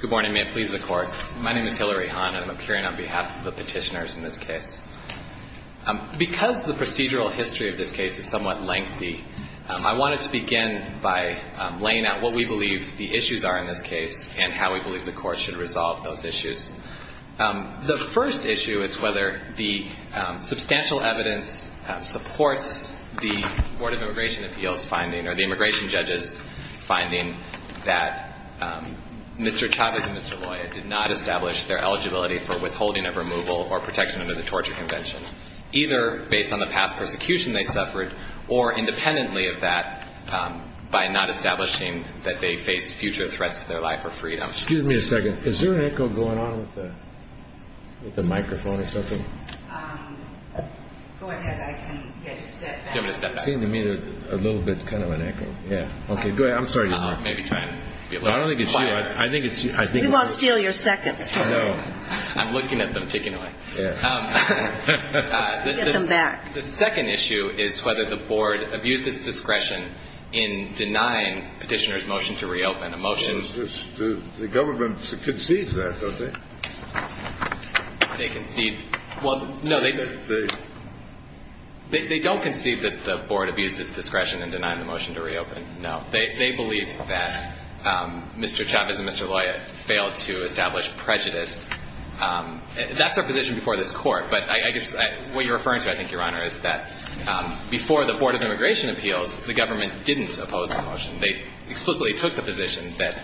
Good morning. May it please the Court. My name is Hillary Hahn and I'm appearing on behalf of the petitioners in this case. Because the procedural history of this case is somewhat lengthy, I wanted to begin by laying out what we believe the issues are in this case and how we believe the Court should resolve those issues. The first issue is whether the substantial evidence supports the Board of Immigration Appeals finding or the immigration judges finding that Mr. Chavez and Mr. Loya did not establish their eligibility for withholding of removal or protection under the Torture Convention, either based on the past persecution they suffered or independently of that by not establishing that they face future threats to their life or freedom. Excuse me a second. Is there an echo going on with the microphone or something? Go ahead. I can, yeah, just step back. It seemed to me a little bit, kind of an echo. Yeah. Okay. Go ahead. I'm sorry. I don't think it's you. I think it's you. We won't steal your seconds. No. I'm looking at them, taking them away. Yeah. Get them back. The second issue is whether the Board abused its discretion in denying petitioners' motion to reopen. The government concedes that, don't they? They concede. Well, no, they don't concede that the Board abused its discretion in denying the motion to reopen, no. They believe that Mr. Chavez and Mr. Loya failed to establish prejudice. That's their position before this Court. But I guess what you're referring to, I think, Your Honor, is that before the Board of Immigration Appeals, the government didn't oppose the motion. They explicitly took the position that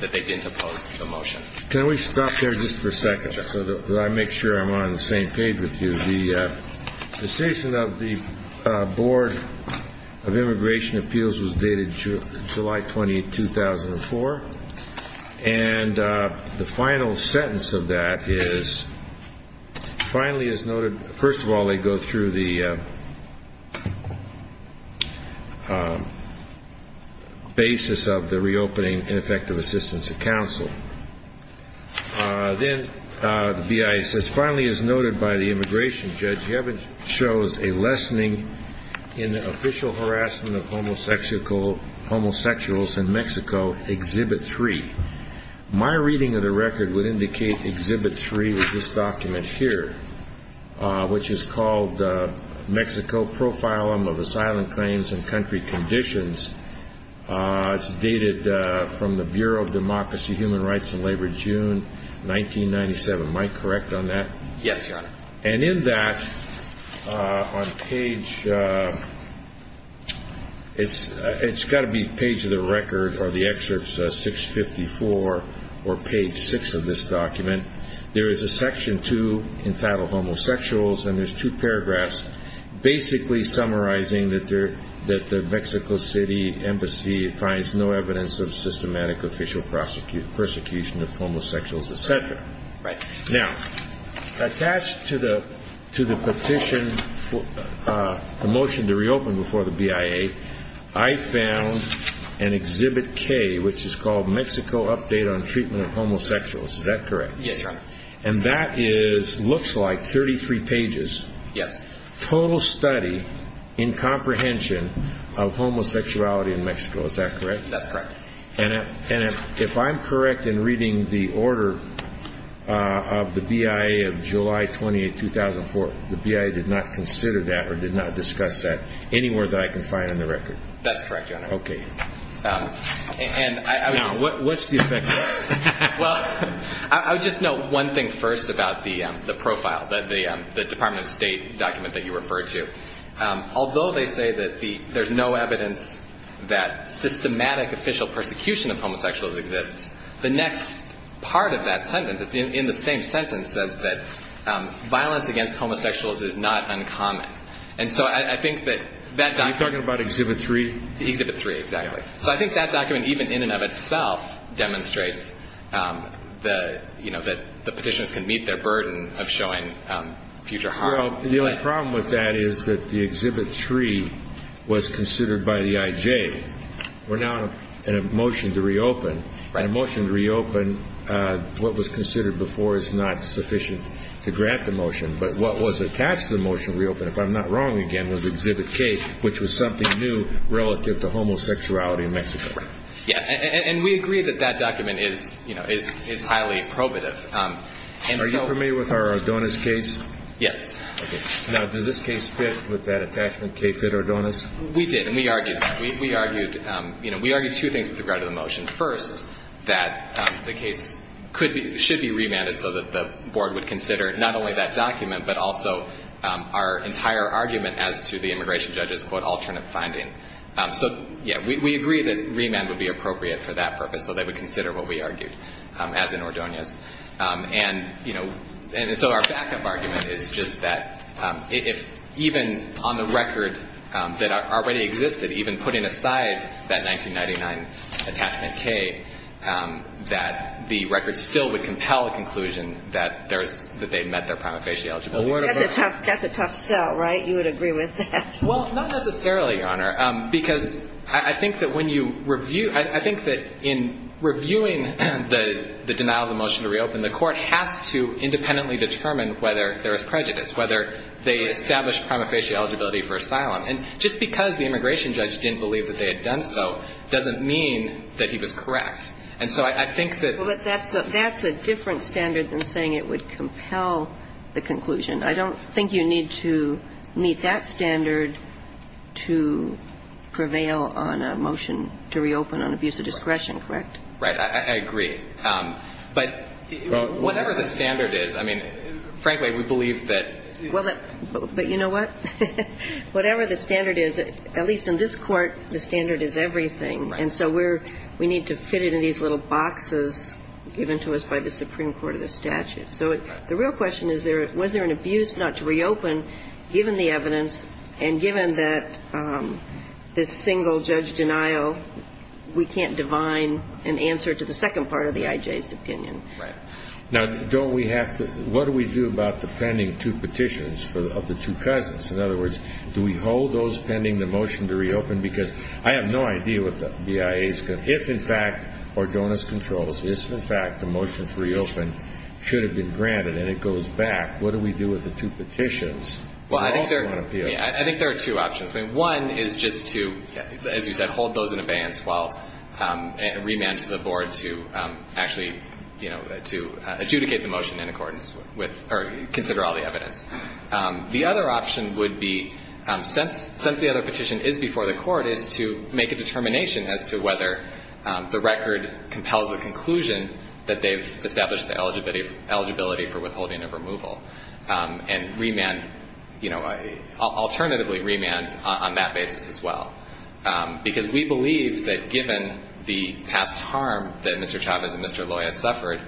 they didn't oppose the motion. Can we stop there just for a second so that I make sure I'm on the same page with you? The decision of the Board of Immigration Appeals was dated July 20, 2004. And the final sentence of that is, finally as noted, first of all, they go through the basis of the reopening and effective assistance of counsel. Then the BIA says, finally as noted by the immigration judge, you haven't chosen a lessening in the official harassment of homosexuals in Mexico, Exhibit 3. My reading of the record would indicate Exhibit 3 with this document here, which is called Mexico Profile of Asylum Claims and Country Conditions. It's dated from the Bureau of Democracy, Human Rights, and Labor, June 1997. Am I correct on that? Yes, Your Honor. And in that, on page, it's got to be page of the record or the excerpts 654 or page 6 of this document, there is a Section 2 entitled Homosexuals, and there's two paragraphs basically summarizing that the Mexico City Embassy finds no evidence of systematic official persecution of homosexuals, etc. Right. Now, attached to the petition, the motion to reopen before the BIA, I found an Exhibit K, which is called Mexico Update on Treatment of Homosexuals. Is that correct? Yes, Your Honor. And that is, looks like 33 pages. Yes. Total study in comprehension of homosexuality in Mexico. Is that correct? That's correct. And if I'm correct in reading the order of the BIA of July 28, 2004, the BIA did not consider that or did not discuss that anywhere that I can find on the record? That's correct, Your Honor. Okay. Now, what's the effect of that? Well, I would just note one thing first about the profile, the Department of State document that you referred to. Although they say that there's no evidence that systematic official persecution of homosexuals exists, the next part of that sentence, it's in the same sentence, says that violence against homosexuals is not uncommon. And so I think that that document... Are you talking about Exhibit 3? Exhibit 3, exactly. So I think that document, even in and of itself, demonstrates that the petitioners can meet their burden of showing future harm. Well, the only problem with that is that the Exhibit 3 was considered by the IJ. We're now in a motion to reopen. Right. And a motion to reopen, what was considered before, is not sufficient to grant the motion. But what was attached to the motion to reopen, if I'm not wrong again, was Exhibit K, which was something new relative to homosexuality in Mexico. Correct. Yeah. And we agree that that document is highly probative. Are you familiar with our Adonis case? Yes. Okay. Now, does this case fit with that attachment, K fit Adonis? We did. And we argued that. We argued two things with regard to the motion. First, that the case should be remanded so that the board would consider not only that document, but also our entire argument as to the immigration judge's, quote, alternate finding. So, yeah, we agree that remand would be appropriate for that purpose, so they would consider what we argued, as in Adonis. And, you know, and so our backup argument is just that if even on the record that already existed, even putting aside that 1999 attachment, K, that the record still would compel a conclusion that they met their prima facie eligibility requirements. That's a tough sell, right? You would agree with that? Well, not necessarily, Your Honor. Because I think that when you review, I think that in reviewing the denial of the motion to reopen, the court has to independently determine whether there is prejudice, whether they establish prima facie eligibility for asylum. And just because the immigration judge didn't believe that they had done so doesn't mean that he was correct. And so I think that that's a different standard than saying it would compel the conclusion. I don't think you need to meet that standard to prevail on a motion to reopen on abuse of discretion, correct? Right. I agree. But whatever the standard is, I mean, frankly, we believe that you know what? Whatever the standard is, at least in this Court, the standard is everything. Right. And so we're we need to fit it in these little boxes given to us by the Supreme Court of the statute. So the real question is, was there an abuse not to reopen given the evidence and given that this single judge denial, we can't divine an answer to the second part of the IJ's opinion? Right. Now, don't we have to what do we do about the pending two petitions of the two cousins? In other words, do we hold those pending the motion to reopen? Because I have no idea what the BIA's if in fact or donors controls this. In fact, the motion to reopen should have been granted and it goes back. What do we do with the two petitions? Well, I think I think there are two options. One is just to, as you said, hold those in abeyance while remand to the board to actually, you know, to adjudicate the motion in accordance with or consider all the evidence. The other option would be since since the other petition is before the court is to make a determination as to whether the record compels the conclusion that they've established the eligibility of eligibility for withholding of removal and remand, you know, alternatively remand on that basis as well. Because we believe that given the past harm that Mr. Chavez and Mr. Loya suffered,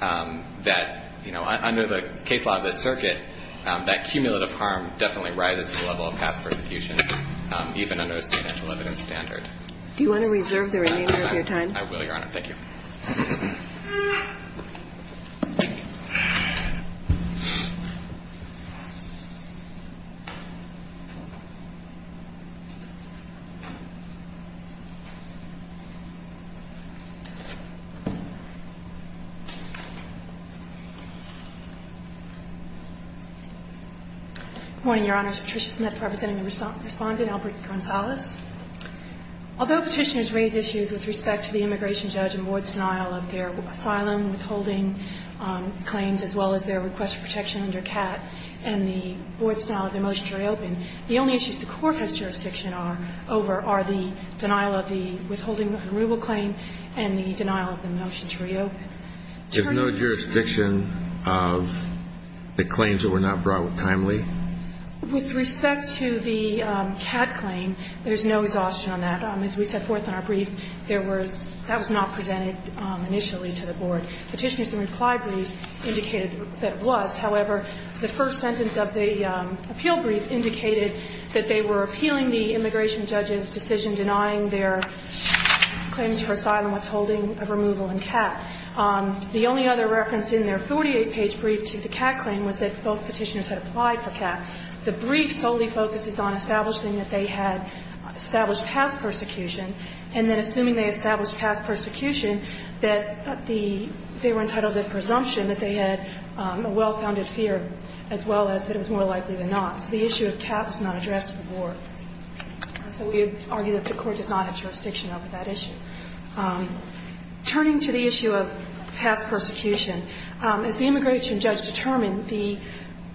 that, you know, under the case law of the circuit, that cumulative harm definitely rises to the level of past persecution, even under a substantial evidence standard. Do you want to reserve the remainder of your time? I will, Your Honor. Thank you. Good morning, Your Honors. Patricia Smith representing the Respondent, Albert Gonzalez. Although Petitioners raise issues with respect to the immigration judge and board's denial of their asylum withholding claims as well as their request for protection under CAT and the board's denial of their motion to reopen, the only issues the court has jurisdiction over are the denial of the withholding of removal claim and the denial of the motion to reopen. There's no jurisdiction of the claims that were not brought with timely? With respect to the CAT claim, there's no exhaustion on that. As we set forth in our brief, that was not presented initially to the board. Petitioners, the reply brief indicated that it was. However, the first sentence of the appeal brief indicated that they were appealing the immigration judge's decision denying their claims for asylum withholding of removal in CAT. The only other reference in their 48-page brief to the CAT claim was that both Petitioners had applied for CAT. The brief solely focuses on establishing that they had established past persecution, and then assuming they established past persecution, that the they were entitled to the presumption that they had a well-founded fear as well as that it was more likely than not. So the issue of CAT was not addressed to the board. So we argue that the court does not have jurisdiction over that issue. Turning to the issue of past persecution, as the immigration judge determined, the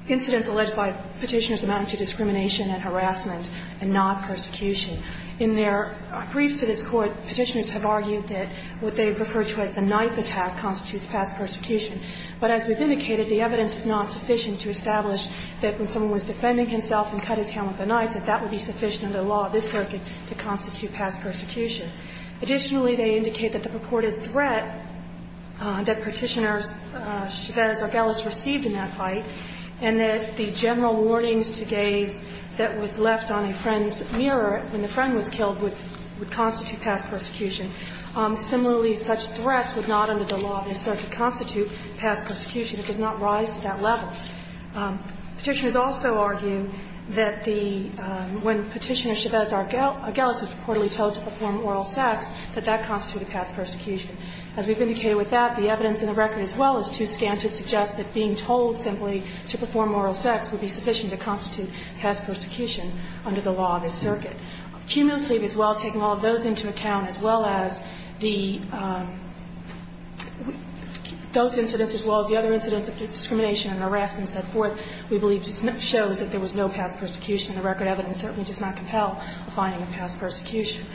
incidents alleged by Petitioners amounted to discrimination and harassment and not persecution. In their briefs to this Court, Petitioners have argued that what they refer to as the knife attack constitutes past persecution. But as we've indicated, the evidence is not sufficient to establish that when someone was defending himself and cut his hand with a knife, that that would be sufficient under the law of this circuit to constitute past persecution. Additionally, they indicate that the purported threat that Petitioners, Chavez or Gelles, received in that fight, and that the general warnings to gays that was left on a friend's mirror when the friend was killed would constitute past persecution. Similarly, such threats would not under the law of this circuit constitute past persecution. It does not rise to that level. Petitioners also argue that the – when Petitioners or Chavez or Gelles were reportedly told to perform oral sex, that that constituted past persecution. As we've indicated with that, the evidence in the record as well as two scans to suggest that being told simply to perform oral sex would be sufficient to constitute past persecution under the law of this circuit. Cumulatively, as well as taking all of those into account, as well as the – those incidents as well as the other incidents of discrimination and harassment set forth, we believe that there was no past persecution. The record evidence certainly does not compel a finding of past persecution.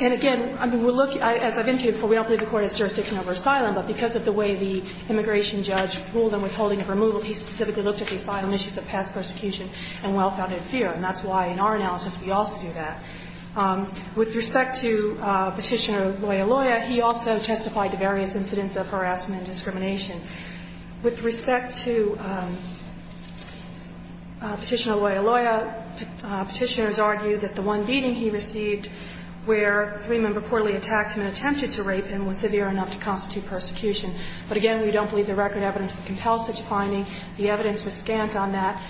And again, I mean, we'll look – as I've indicated before, we don't believe the Court has jurisdiction over asylum, but because of the way the immigration judge ruled on withholding of removal, he specifically looked at the asylum issues of past persecution and well-founded fear. And that's why, in our analysis, we also do that. With respect to Petitioner Loyaloya, he also testified to various incidents of harassment and discrimination. With respect to Petitioner Loyaloya, Petitioners argue that the one beating he received where three-member poorly attacked him and attempted to rape him was severe enough to constitute persecution. But again, we don't believe the record evidence compels such a finding. The evidence was scant on that.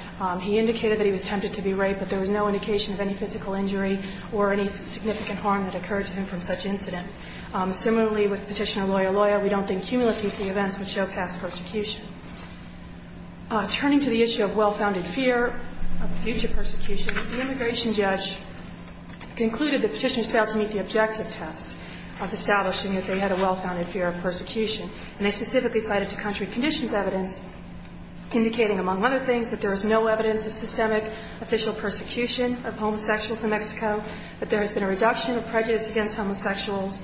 He indicated that he was tempted to be raped, but there was no indication of any physical injury or any significant harm that occurred to him from such incident. Similarly, with Petitioner Loyaloya, we don't think cumulative events would show past persecution. Turning to the issue of well-founded fear of future persecution, the immigration judge concluded that Petitioners failed to meet the objective test of establishing that they had a well-founded fear of persecution. And they specifically cited to contrary conditions evidence indicating, among other things, that there is no evidence of systemic official persecution of homosexuals in Mexico, that there has been a reduction of prejudice against homosexuals.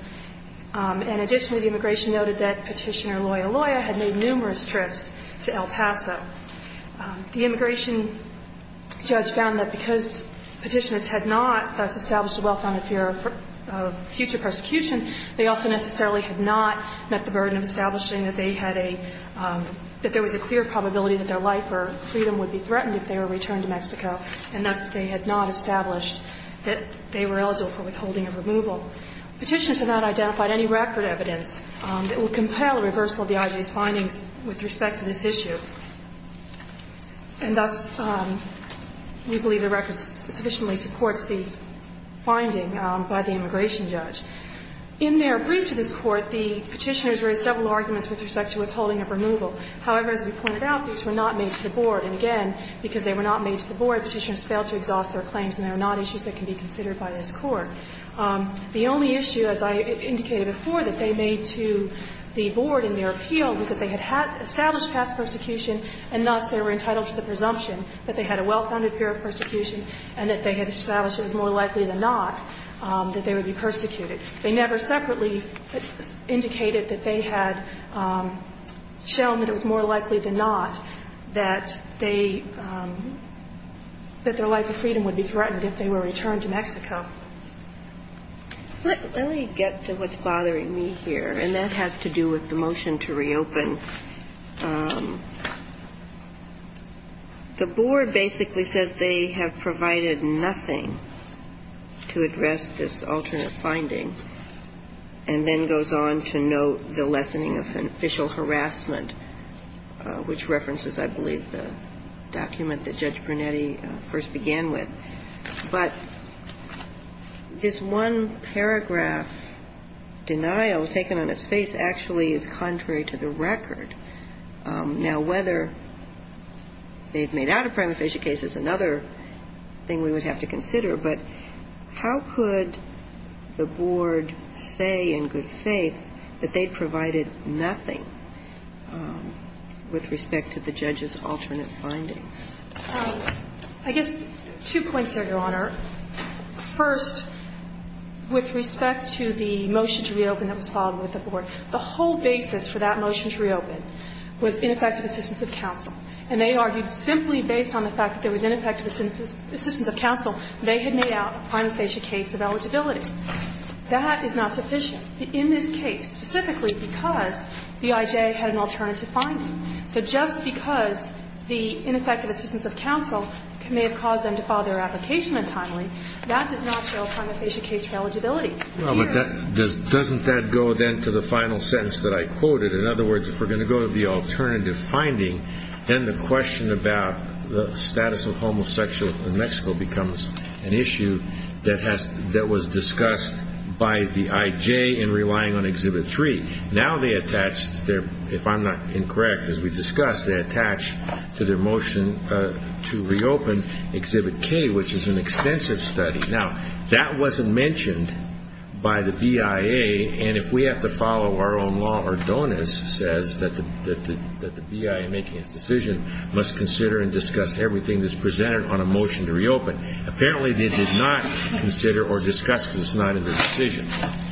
And additionally, the immigration noted that Petitioner Loyaloya had made numerous trips to El Paso. The immigration judge found that because Petitioners had not thus established a well-founded fear of future persecution, they also necessarily had not met the burden of establishing that they had a – that there was a clear probability that their life or freedom would be threatened if they were returned to Mexico, and thus they had not established that they were eligible for withholding of removal. Petitioners have not identified any record evidence that would compel a reversal of the IG's findings with respect to this issue. And thus, we believe the record sufficiently supports the finding by the immigration judge. In their brief to this Court, the Petitioners raised several arguments with respect to withholding of removal. However, as we pointed out, these were not made to the Board, and again, because they were not made to the Board, Petitioners failed to exhaust their claims, and they are not issues that can be considered by this Court. The only issue, as I indicated before, that they made to the Board in their appeal was that they had established past persecution, and thus they were entitled to the presumption that they had a well-founded fear of persecution and that they had established it was more likely than not that they would be persecuted. They never separately indicated that they had shown that it was more likely than not that they – that their life of freedom would be threatened if they were returned to Mexico. Let me get to what's bothering me here, and that has to do with the motion to reopen. The Board basically says they have provided nothing to address this alternate finding, and then goes on to note the lessening of an official harassment, which references, I believe, the document that Judge Brunetti first began with. But this one paragraph denial taken on its face actually is contrary to the record. Now, whether they have made out a prima facie case is another thing we would have to consider, but how could the Board say in good faith that they provided nothing with respect to the judge's alternate findings? I guess two points there, Your Honor. First, with respect to the motion to reopen that was filed with the Board, the whole basis for that motion to reopen was ineffective assistance of counsel. And they argued simply based on the fact that there was ineffective assistance of counsel, they had made out a prima facie case of eligibility. That is not sufficient in this case, specifically because the IJ had an alternative finding. So just because the ineffective assistance of counsel may have caused them to file their application untimely, that does not show a prima facie case for eligibility. Well, but doesn't that go then to the final sentence that I quoted? In other words, if we're going to go to the alternative finding, then the question about the status of homosexual in Mexico becomes an issue that was discussed by the IJ in relying on Exhibit 3. Now they attach, if I'm not incorrect, as we discussed, they attach to their motion to reopen Exhibit K, which is an extensive study. Now, that wasn't mentioned by the BIA, and if we have to follow our own law, Ardonis says that the BIA making its decision must consider and discuss everything that's presented on a motion to reopen. Apparently, they did not consider or discuss because it's not in their decision.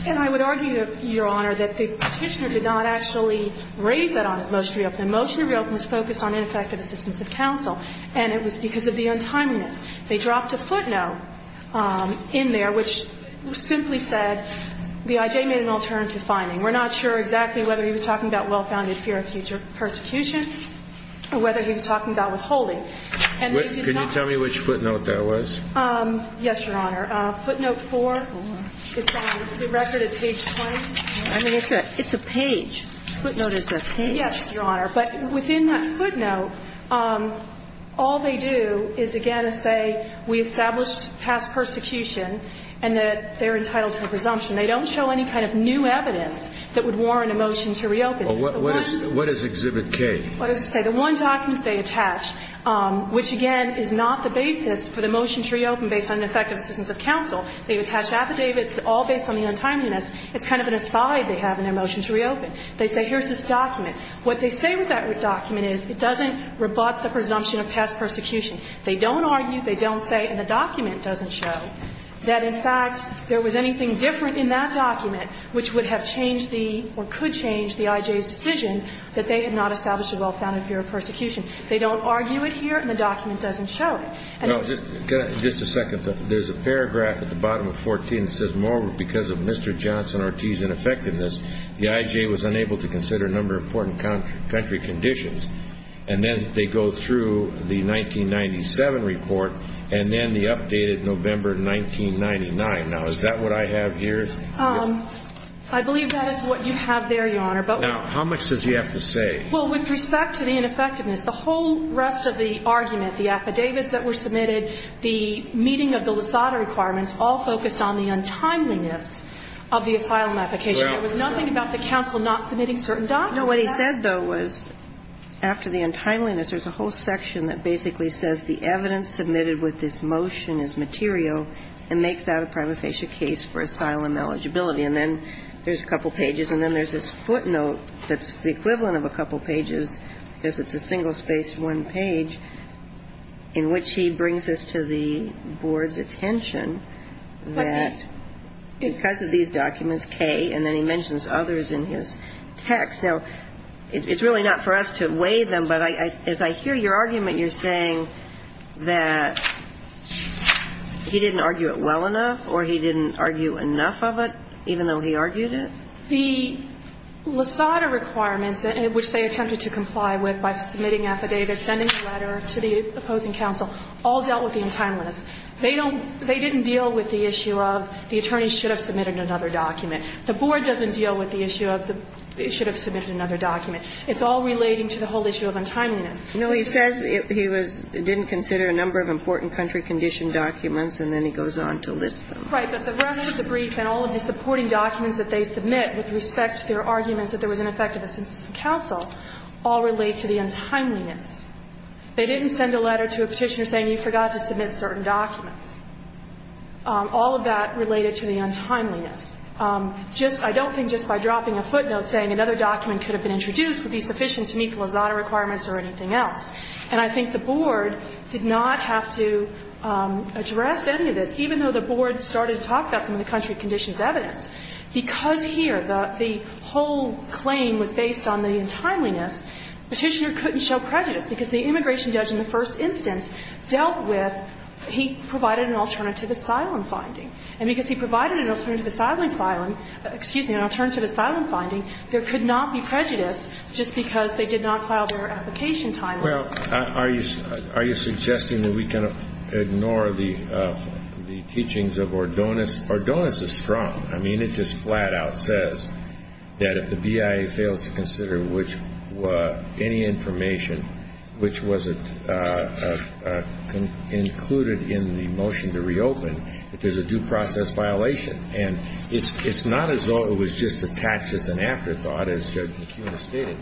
And I would argue, Your Honor, that the Petitioner did not actually raise that on his motion to reopen. The motion to reopen was focused on ineffective assistance of counsel, and it was because of the untimeliness. They dropped a footnote in there which simply said the IJ made an alternative finding. We're not sure exactly whether he was talking about well-founded fear of future persecution or whether he was talking about withholding. And they did not ---- Can you tell me which footnote that was? Yes, Your Honor. Footnote 4. It's on the record at page 20. I mean, it's a page. Footnote is a page. Yes, Your Honor. But within that footnote, all they do is, again, say we established past persecution and that they're entitled to a presumption. They don't show any kind of new evidence that would warrant a motion to reopen. What does Exhibit K? What does it say? The one document they attach, which, again, is not the basis for the motion to reopen based on ineffective assistance of counsel. They've attached affidavits all based on the untimeliness. It's kind of an aside they have in their motion to reopen. They say here's this document. What they say with that document is it doesn't rebut the presumption of past persecution. They don't argue, they don't say, and the document doesn't show that, in fact, there was anything different in that document which would have changed the or could change the I.J.'s decision that they had not established a well-founded fear of persecution. They don't argue it here, and the document doesn't show it. No. Just a second. There's a paragraph at the bottom of 14 that says, moreover, because of Mr. Johnson R.T.'s ineffectiveness, the I.J. was unable to consider a number of important country conditions. And then they go through the 1997 report and then the updated November 1999. Now, is that what I have here? I believe that is what you have there, Your Honor. Now, how much does he have to say? Well, with respect to the ineffectiveness, the whole rest of the argument, the affidavits that were submitted, the meeting of the Lysada requirements all focused on the untimeliness of the asylum application. There was nothing about the counsel not submitting certain documents. No. What he said, though, was after the untimeliness, there's a whole section that basically says the evidence submitted with this motion is material and makes that a prima facie case for asylum eligibility. And then there's a couple pages, and then there's this footnote that's the equivalent of a couple pages, because it's a single-spaced one page, in which he brings this to the board's attention that because of these documents, K, and then he mentions others in his text. Now, it's really not for us to weigh them, but as I hear your argument, you're saying that he didn't argue it well enough or he didn't argue enough of it, even though he argued it? The Lysada requirements, which they attempted to comply with by submitting affidavits, opposing counsel, all dealt with the untimeliness. They don't they didn't deal with the issue of the attorneys should have submitted another document. The board doesn't deal with the issue of they should have submitted another document. It's all relating to the whole issue of untimeliness. You know, he says he was didn't consider a number of important country condition documents, and then he goes on to list them. Right. But the rest of the brief and all of the supporting documents that they submit with respect to their arguments that there was ineffective assistance from counsel all relate to the untimeliness. They didn't send a letter to a petitioner saying you forgot to submit certain documents. All of that related to the untimeliness. Just, I don't think just by dropping a footnote saying another document could have been introduced would be sufficient to meet the Lysada requirements or anything else. And I think the board did not have to address any of this, even though the board started to talk about some of the country conditions evidence. Because here the whole claim was based on the untimeliness, petitioner couldn't show prejudice, because the immigration judge in the first instance dealt with he provided an alternative asylum finding. And because he provided an alternative asylum finding, there could not be prejudice just because they did not file their application timely. Well, are you suggesting that we can ignore the teachings of Ordonez? Ordonez is strong. I mean, it just flat out says that if the BIA fails to consider any information which was included in the motion to reopen, that there's a due process violation. And it's not as though it was just attached as an afterthought. As the judge stated,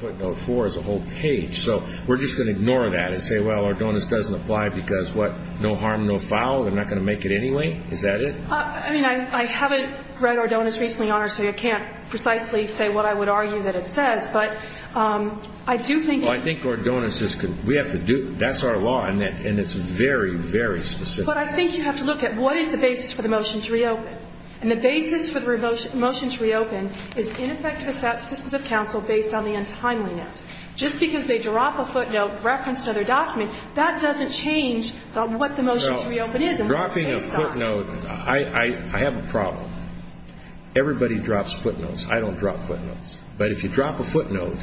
footnote four is a whole page. So we're just going to ignore that and say, well, Ordonez doesn't apply because what? No harm, no foul? They're not going to make it anyway? Is that it? I mean, I haven't read Ordonez recently, Your Honor, so I can't precisely say what I would argue that it says. But I do think it's – Well, I think Ordonez is – we have to do – that's our law, and it's very, very specific. But I think you have to look at what is the basis for the motion to reopen. And the basis for the motion to reopen is ineffective assistance of counsel based on the untimeliness. Just because they drop a footnote referenced in their document, that doesn't change what the motion to reopen is. Dropping a footnote – I have a problem. Everybody drops footnotes. I don't drop footnotes. But if you drop a footnote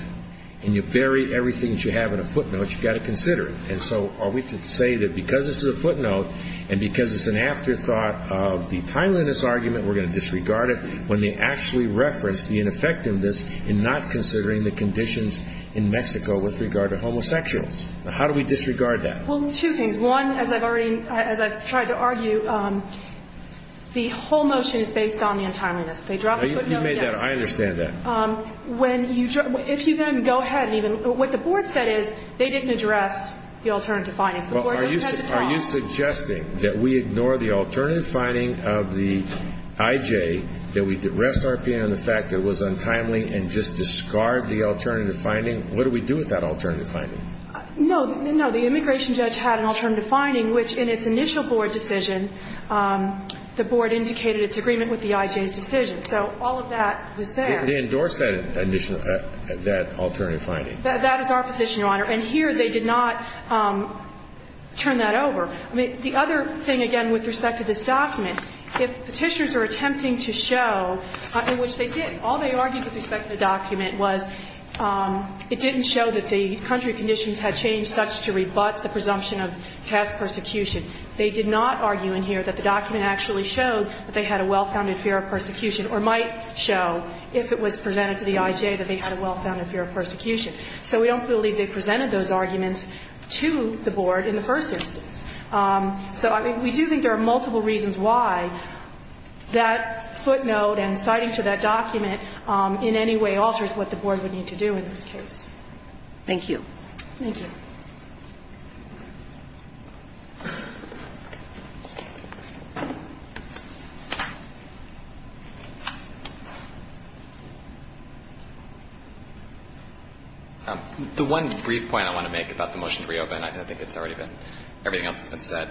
and you bury everything that you have in a footnote, you've got to consider it. And so are we to say that because this is a footnote and because it's an afterthought of the timeliness argument we're going to disregard it when they actually reference the ineffectiveness in not considering the conditions in Mexico with regard to homosexuals? How do we disregard that? Well, two things. One, as I've already – as I've tried to argue, the whole motion is based on the untimeliness. They drop a footnote. You made that – I understand that. When you – if you then go ahead and even – what the board said is they didn't address the alternative findings. The board only had to drop – Are you suggesting that we ignore the alternative finding of the IJ, that we rest our opinion on the fact that it was untimely and just discard the alternative finding? What do we do with that alternative finding? No. No. The immigration judge had an alternative finding, which in its initial board decision the board indicated its agreement with the IJ's decision. So all of that was there. They endorsed that alternative finding. That is our position, Your Honor. And here they did not turn that over. I mean, the other thing, again, with respect to this document, if Petitioners are attempting to show, in which they did, all they argued with respect to the document was it didn't show that the country conditions had changed such to rebut the presumption of past persecution. They did not argue in here that the document actually showed that they had a well-founded fear of persecution or might show, if it was presented to the IJ, that they had a well-founded fear of persecution. So we don't believe they presented those arguments to the board in the first instance. So we do think there are multiple reasons why that footnote and citing to that document in any way alters what the board would need to do in this case. Thank you. Thank you. The one brief point I want to make about the motion to reopen, I think it's already been, everything else has been said,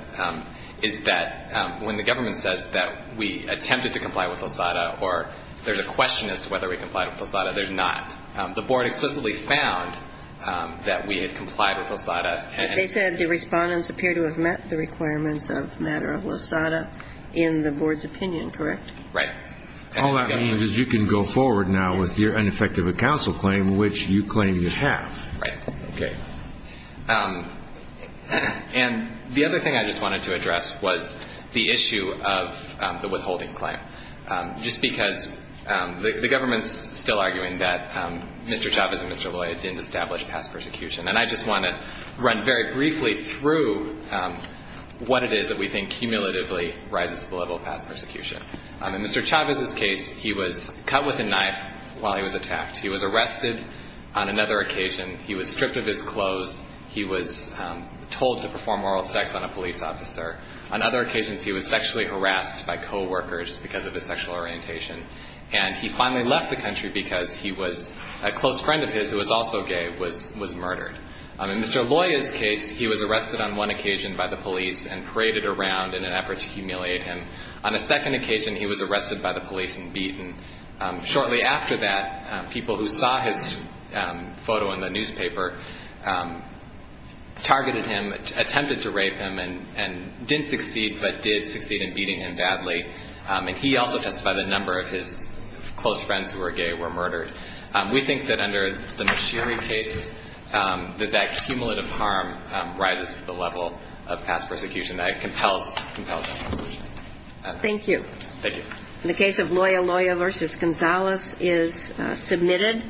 is that when the government says that we attempted to comply with LOSADA or there's a question as to whether we complied with LOSADA, there's not. The board explicitly found that we had complied with LOSADA. They said the respondents appear to have met the requirements of matter of LOSADA in the board's opinion, correct? Right. All that means is you can go forward now with your ineffective counsel claim, which you claim you have. Right. Okay. And the other thing I just wanted to address was the issue of the withholding claim. Just because the government's still arguing that Mr. Chavez and Mr. Loya didn't establish past persecution. And I just want to run very briefly through what it is that we think cumulatively rises to the level of past persecution. In Mr. Chavez's case, he was cut with a knife while he was attacked. He was arrested on another occasion. He was stripped of his clothes. He was told to perform oral sex on a police officer. On other occasions, he was sexually harassed by coworkers because of his sexual orientation. And he finally left the country because he was a close friend of his who was also gay was murdered. In Mr. Loya's case, he was arrested on one occasion by the police and paraded around in an effort to humiliate him. On a second occasion, he was arrested by the police and beaten. Shortly after that, people who saw his photo in the newspaper targeted him, attempted to rape him, and didn't succeed, but did succeed in beating him badly. And he also testified that a number of his close friends who were gay were murdered. We think that under the Moshiri case, that that cumulative harm rises to the level of past persecution. That it compels that resolution. Thank you. Thank you. The case of Loya Loya v. Gonzalez is submitted.